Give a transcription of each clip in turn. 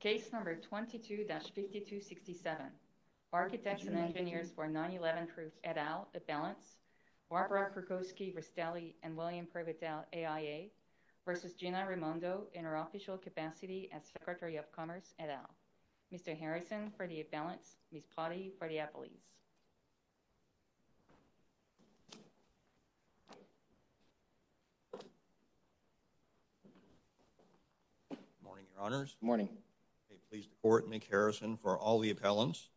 Case No. 22-5267 Architects & Engineers for 9-11 Truth et al. Barbara Kurkowski-Ristelli & William Pervitale, AIA v. Gina Raimondo, in her official capacity as Secretary of Commerce et al. Mr. Harrison, for the imbalance. Ms. Potty, for the appellees. Good morning, Your Honors. Good morning. I'm pleased to report Mick Harrison for all the appellants.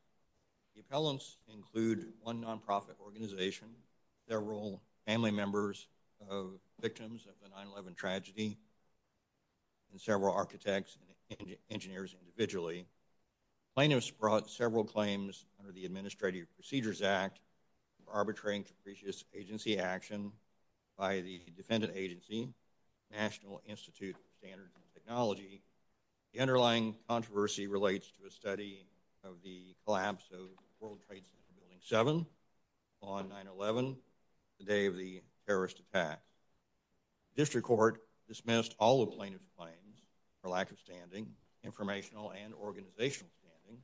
The appellants include one non-profit organization, several family members of victims of the 9-11 tragedy, and several architects and engineers individually. Plaintiffs brought several claims under the Administrative Procedures Act for arbitrating capricious agency action by the defendant agency, National Institute of Standards and Technology. The underlying controversy relates to a study of the collapse of World Trade Center Building 7 on 9-11, the day of the terrorist attacks. The District Court dismissed all the plaintiffs' claims for lack of standing, informational and organizational standing,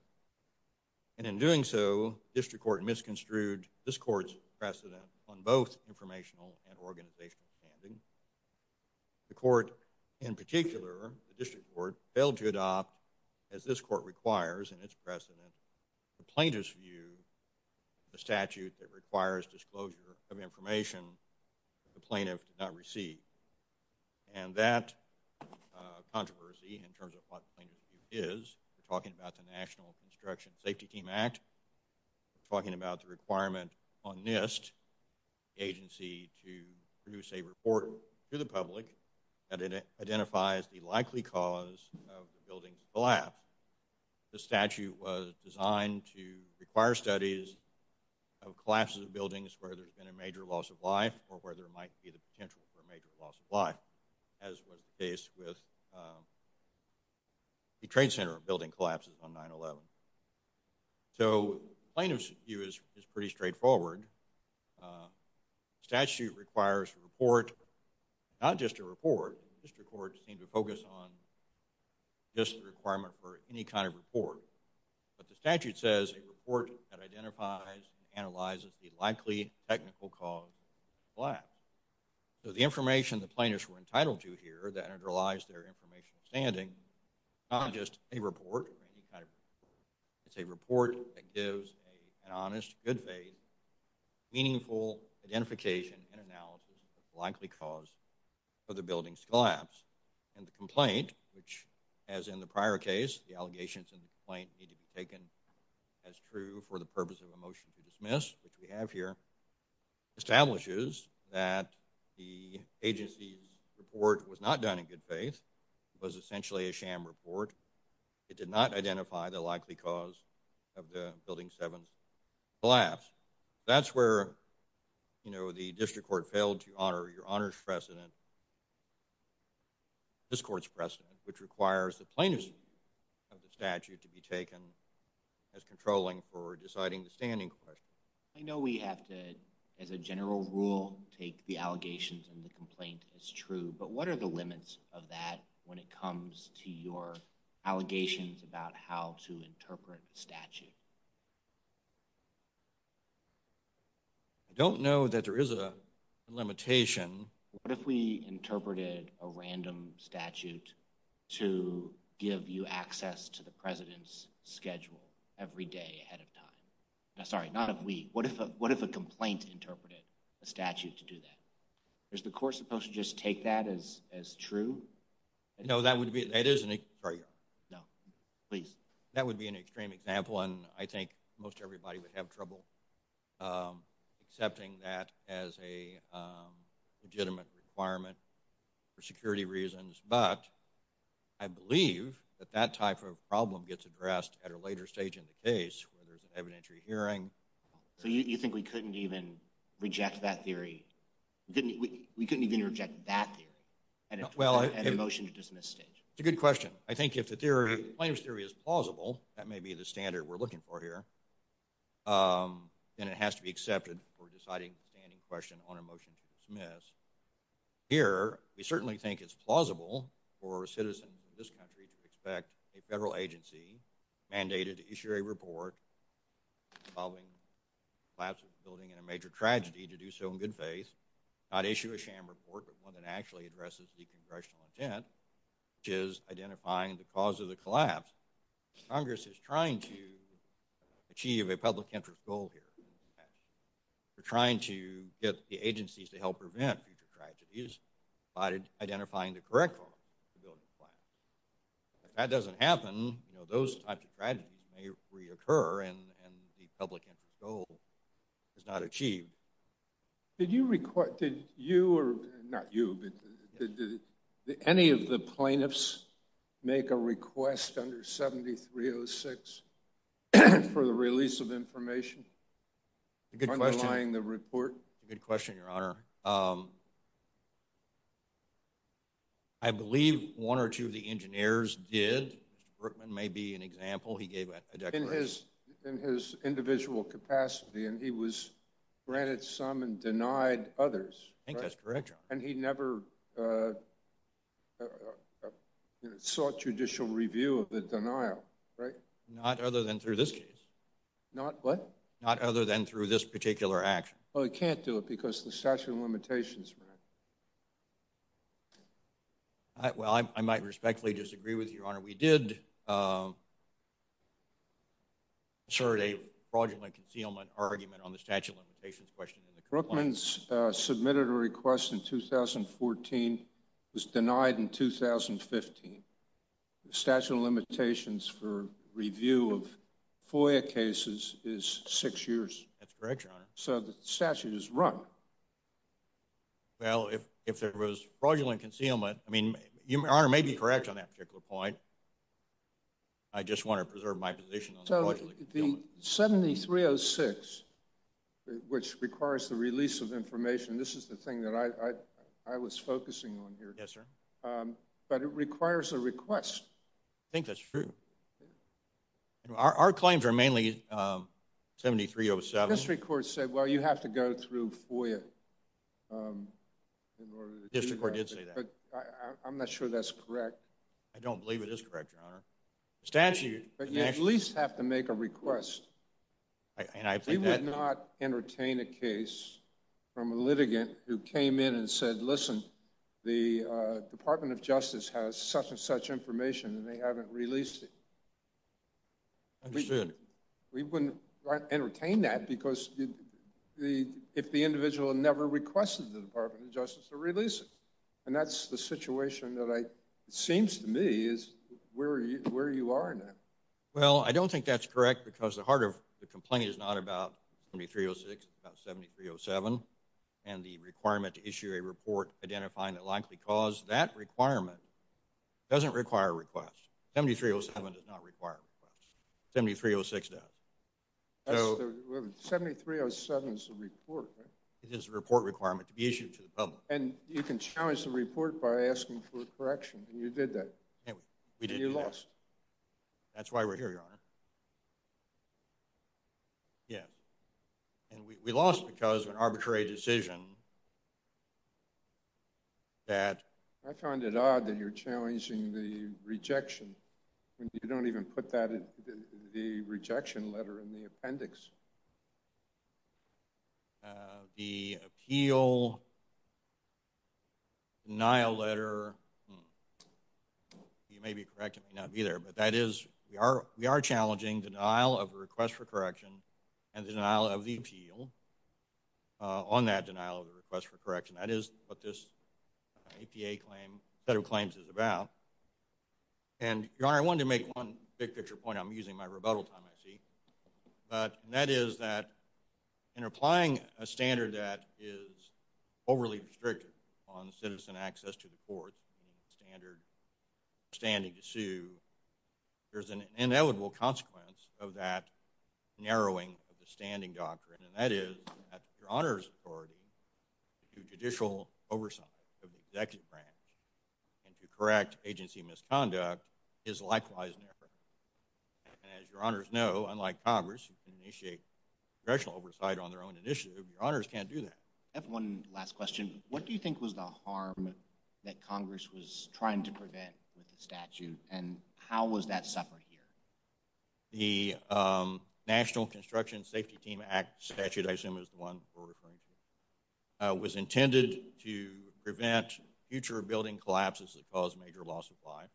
and in doing so, the District Court misconstrued this Court's precedent on both informational and organizational standing. The Court, in particular, the District Court, failed to adopt, as this Court requires in its precedent, the plaintiff's view, the statute that requires disclosure of information that the plaintiff did not receive. And that controversy, in terms of what the plaintiff's view is, we're talking about the National Construction Safety Team Act, we're talking about the requirement on NIST, the agency, to produce a report to the public that identifies the likely cause of the building's collapse. The statute was designed to require studies of collapses of buildings where there's been a major loss of life or where there might be the potential for a major loss of life, as was the case with the Trade Center Building collapses on 9-11. So the plaintiff's view is pretty straightforward. The statute requires a report, not just a report. The District Court seemed to focus on just the requirement for any kind of report. But the statute says a report that identifies and analyzes the likely technical cause of the collapse. So the information the plaintiffs were entitled to here, that underlies their informational standing, not just a report or any kind of report, it's a report that gives an honest, good faith, meaningful identification and analysis of the likely cause of the building's collapse. And the complaint, which as in the prior case, the allegations in the complaint need to be taken as true for the purpose of a motion to dismiss, which we have here, establishes that the agency's report was not done in good faith. It was essentially a sham report. It did not identify the likely cause of the building's seventh collapse. That's where the District Court failed to honor your honor's precedent, this court's precedent, which requires the plaintiff's view of the statute to be taken as controlling for deciding the standing question. I know we have to, as a general rule, take the allegations in the complaint as true, but what are the limits of that when it comes to your allegations about how to interpret a statute? I don't know that there is a limitation. What if we interpreted a random statute to give you access to the president's schedule every day ahead of time? Sorry, not if we, what if a complaint interpreted a statute to do that? Is the court supposed to just take that as true? No, that would be an extreme example, and I think most everybody would have trouble accepting that as a legitimate requirement for security reasons, but I believe that that type of problem gets addressed at a later stage in the case where there's an evidentiary hearing. So you think we couldn't even reject that theory? We couldn't even reject that theory at a motion to dismiss stage? It's a good question. I think if the plaintiff's theory is plausible, that may be the standard we're looking for here, then it has to be accepted for deciding the standing question on a motion to dismiss. Here, we certainly think it's plausible for a citizen in this country to expect a federal agency mandated to issue a report involving the collapse of a building and a major tragedy to do so in good faith, not issue a sham report but one that actually addresses the congressional intent, which is identifying the cause of the collapse. Congress is trying to achieve a public interest goal here. They're trying to get the agencies to help prevent future tragedies by identifying the correct cause of the building collapse. If that doesn't happen, those types of tragedies may reoccur, and the public interest goal is not achieved. Did any of the plaintiffs make a request under 7306 for the release of information underlying the report? Good question, Your Honor. I believe one or two of the engineers did. Mr. Brookman may be an example. He gave a declaration. In his individual capacity, and he was granted some and denied others. I think that's correct, Your Honor. And he never sought judicial review of the denial, right? Not other than through this case. Not what? Not other than through this particular action. Well, he can't do it because of the statute of limitations, Your Honor. Well, I might respectfully disagree with you, Your Honor. We did assert a fraudulent concealment argument on the statute of limitations question. Brookman submitted a request in 2014, was denied in 2015. The statute of limitations for review of FOIA cases is six years. That's correct, Your Honor. So the statute is run. Well, if there was fraudulent concealment, I mean, Your Honor may be correct on that particular point. I just want to preserve my position on fraudulent concealment. So the 7306, which requires the release of information, this is the thing that I was focusing on here. Yes, sir. But it requires a request. I think that's true. Our claims are mainly 7307. The magistrate court said, well, you have to go through FOIA in order to do that. The district court did say that. I'm not sure that's correct. I don't believe it is correct, Your Honor. But you at least have to make a request. We would not entertain a case from a litigant who came in and said, listen, the Department of Justice has such and such information and they haven't released it. Understood. We wouldn't entertain that because if the individual never requested the Department of Justice to release it. And that's the situation that seems to me is where you are in that. Well, I don't think that's correct because the heart of the complaint is not about 7306, it's about 7307. And the requirement to issue a report identifying the likely cause, that requirement doesn't require a request. 7307 does not require a request. 7306 does. 7307 is a report, right? It is a report requirement to be issued to the public. And you can challenge the report by asking for a correction. And you did that. We did. And you lost. That's why we're here, Your Honor. Yeah. And we lost because of an arbitrary decision that. I find it odd that you're challenging the rejection. You don't even put the rejection letter in the appendix. The appeal denial letter, you may be correct, you may not be there. But that is, we are challenging denial of a request for correction and denial of the appeal on that denial of a request for correction. That is what this APA claim, federal claims is about. And, Your Honor, I wanted to make one big picture point. I'm using my rebuttal time, I see. And that is that in applying a standard that is overly restricted on citizen access to the courts, standard standing to sue, there's an inevitable consequence of that narrowing of the standing doctrine. And that is that Your Honor's authority to judicial oversight of the executive branch and to correct agency misconduct is likewise narrow. And as Your Honors know, unlike Congress, you can initiate congressional oversight on their own initiative. Your Honors can't do that. I have one last question. What do you think was the harm that Congress was trying to prevent with the statute? And how was that suffered here? The National Construction Safety Team Act statute, I assume is the one we're referring to, was intended to prevent future building collapses that cause major loss of life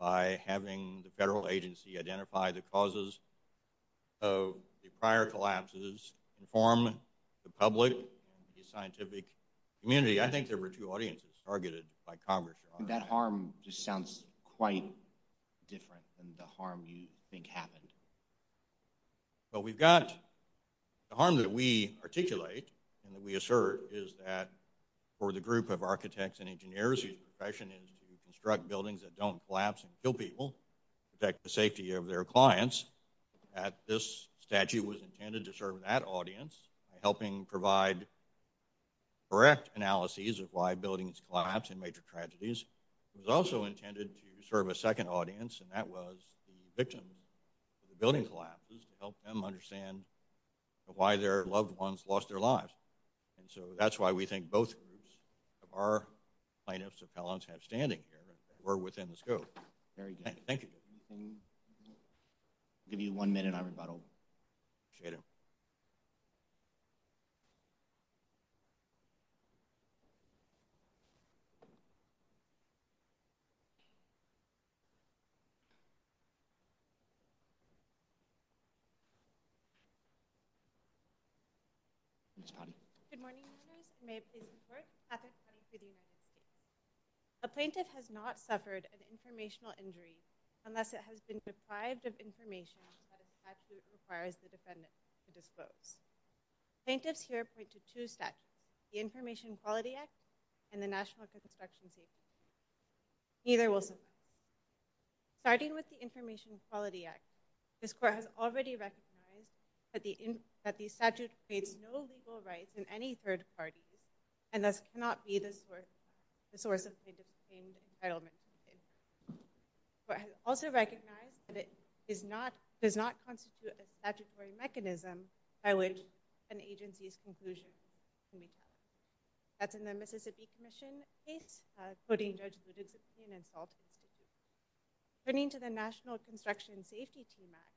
by having the federal agency identify the causes of the prior collapses, inform the public and the scientific community. I think there were two audiences targeted by Congress, Your Honor. That harm just sounds quite different than the harm you think happened. Well, we've got the harm that we articulate and that we assert is that for the group of architects and engineers, whose profession is to construct buildings that don't collapse and kill people, protect the safety of their clients, that this statute was intended to serve that audience, by helping provide correct analyses of why buildings collapse in major tragedies. It was also intended to serve a second audience, and that was the victims of the building collapses, to help them understand why their loved ones lost their lives. And so that's why we think both groups of our plaintiffs and appellants have standing here, that we're within the scope. Very good. Thank you. I'll give you one minute, and I'm about over. Appreciate it. Ms. Pottinger. Good morning, Your Honors. May it please the Court. Katherine Pottinger for the United States. A plaintiff has not suffered an informational injury unless it has been deprived of information that a statute requires the defendant to disclose. Plaintiffs here point to two statutes, the Information Quality Act and the National Construction Safety Act. Neither will survive. Starting with the Information Quality Act, this Court has already recognized that the statute creates no legal rights for plaintiffs in any third parties, and thus cannot be the source of plaintiff's claimed entitlement. The Court has also recognized that it does not constitute a statutory mechanism by which an agency's conclusion can be touted. That's in the Mississippi Commission case, quoting Judge Ludisipin and Salt Institute. Turning to the National Construction Safety Team Act,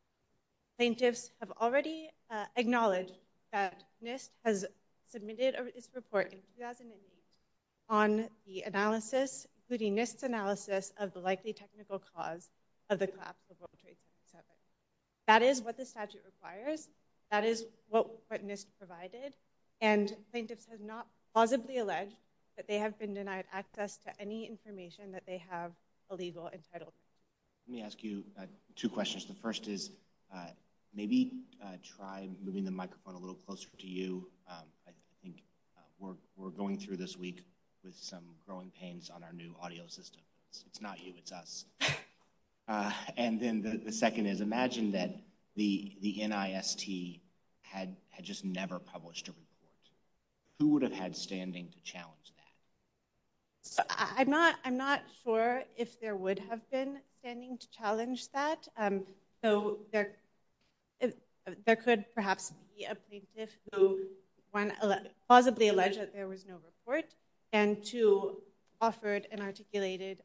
plaintiffs have already acknowledged that NIST has submitted its report in 2008 on the analysis, including NIST's analysis of the likely technical cause of the collapse of World Trade Center 7. That is what the statute requires. That is what NIST provided. And plaintiffs have not plausibly alleged that they have been denied access to any information that they have a legal entitlement. Let me ask you two questions. The first is, maybe try moving the microphone a little closer to you. I think we're going through this week with some growing pains on our new audio system. It's not you, it's us. And then the second is, imagine that the NIST had just never published a report. Who would have had standing to challenge that? I'm not sure if there would have been standing to challenge that. There could perhaps be a plaintiff who, one, plausibly alleged that there was no report, and two, offered an articulated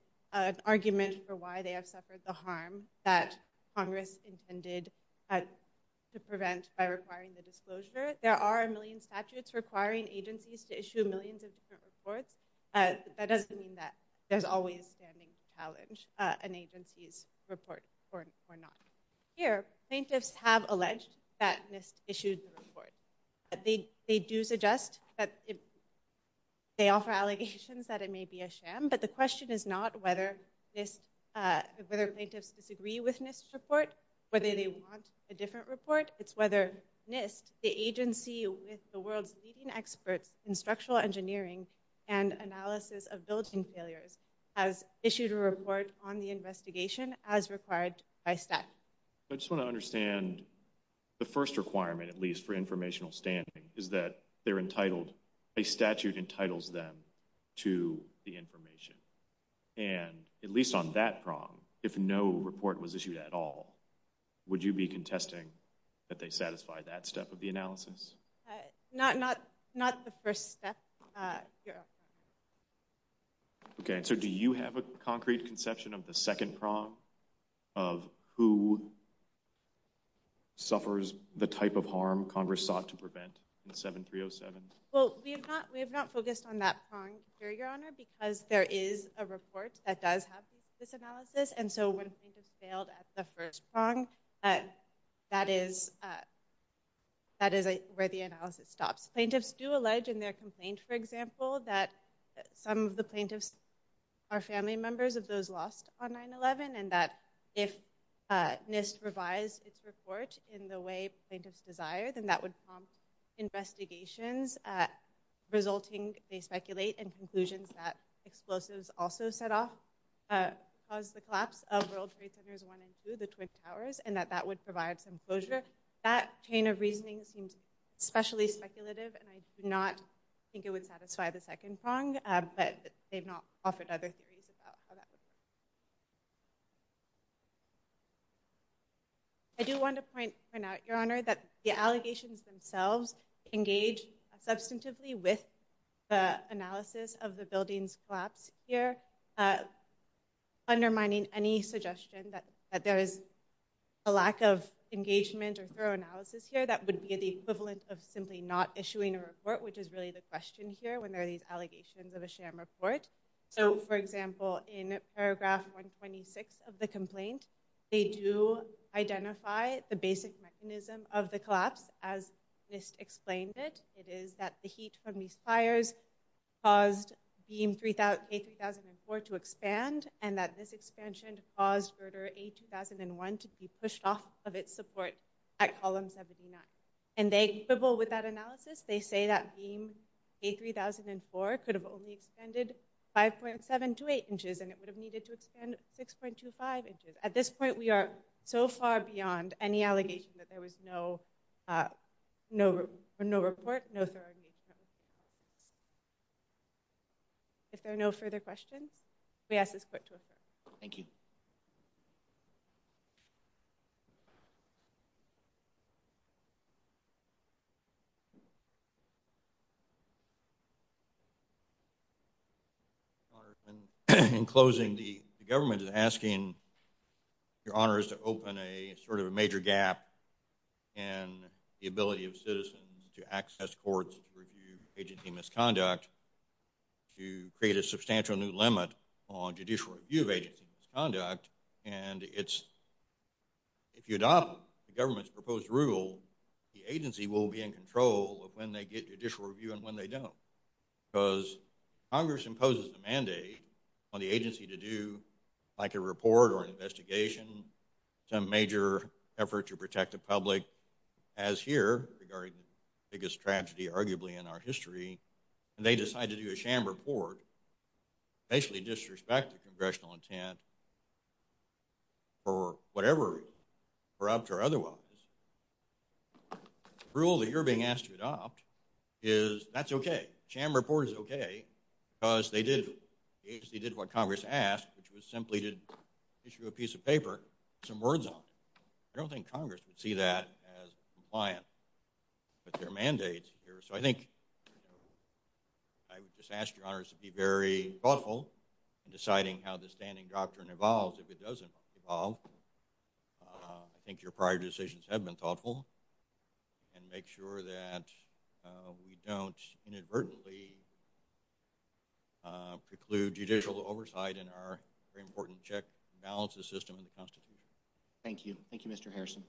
argument for why they have suffered the harm that Congress intended to prevent by requiring the disclosure. There are a million statutes requiring agencies to issue millions of different reports. That doesn't mean that there's always standing to challenge an agency's report or not. Here, plaintiffs have alleged that NIST issued the report. They do suggest that they offer allegations that it may be a sham, but the question is not whether plaintiffs disagree with NIST's report, whether they want a different report. It's whether NIST, the agency with the world's leading experts in structural engineering and analysis of building failures, has issued a report on the investigation as required by statute. I just want to understand the first requirement, at least for informational standing, is that a statute entitles them to the information. At least on that prong, if no report was issued at all, would you be contesting that they satisfy that step of the analysis? Not the first step, Your Honor. Do you have a concrete conception of the second prong of who suffers the type of harm Congress sought to prevent in 7307? We have not focused on that prong here, Your Honor, because there is a report that does have this analysis, and so when plaintiffs failed at the first prong, that is where the analysis stops. Plaintiffs do allege in their complaint, for example, that some of the plaintiffs are family members of those lost on 9-11, and that if NIST revised its report in the way plaintiffs desired, then that would prompt investigations resulting, they speculate, in conclusions that explosives also set off, caused the collapse of World Trade Centers 1 and 2, the Twin Towers, and that that would provide some closure. That chain of reasoning seems especially speculative, and I do not think it would satisfy the second prong, but they've not offered other theories about how that would work. I do want to point out, Your Honor, that the allegations themselves engage substantively with the analysis of the building's collapse here, undermining any suggestion that there is a lack of engagement or thorough analysis here that would be the equivalent of simply not issuing a report, which is really the question here when there are these allegations of a sham report. So, for example, in paragraph 126 of the complaint, they do identify the basic mechanism of the collapse, as NIST explained it. It is that the heat from these fires caused K-3004 to expand, and that this expansion caused Verter A-2001 to be pushed off of its support at column 79. And they quibble with that analysis. They say that beam K-3004 could have only expanded 5.7 to 8 inches, and it would have needed to expand 6.25 inches. At this point, we are so far beyond any allegation that there was no report, no thorough engagement. If there are no further questions, we ask this Court to adjourn. Thank you. Thank you. In closing, the government is asking Your Honors to open a sort of a major gap in the ability of citizens to access courts to review agency misconduct to create a substantial new limit on judicial review of agency misconduct. And if you adopt the government's proposed rule, the agency will be in control of when they get judicial review and when they don't. Because Congress imposes a mandate on the agency to do, like a report or an investigation, some major effort to protect the public, as here, regarding the biggest tragedy arguably in our history. And they decide to do a sham report, basically disrespect the congressional intent, for whatever reason, corrupt or otherwise. The rule that you're being asked to adopt is, that's okay. A sham report is okay because they did what Congress asked, which was simply to issue a piece of paper with some words on it. I don't think Congress would see that as compliant with their mandate here. So I think I would just ask Your Honors to be very thoughtful in deciding how this standing doctrine evolves. If it doesn't evolve, I think your prior decisions have been thoughtful. And make sure that we don't inadvertently preclude judicial oversight in our very important check and balances system in the Constitution. Thank you. Thank you, Mr. Harrison.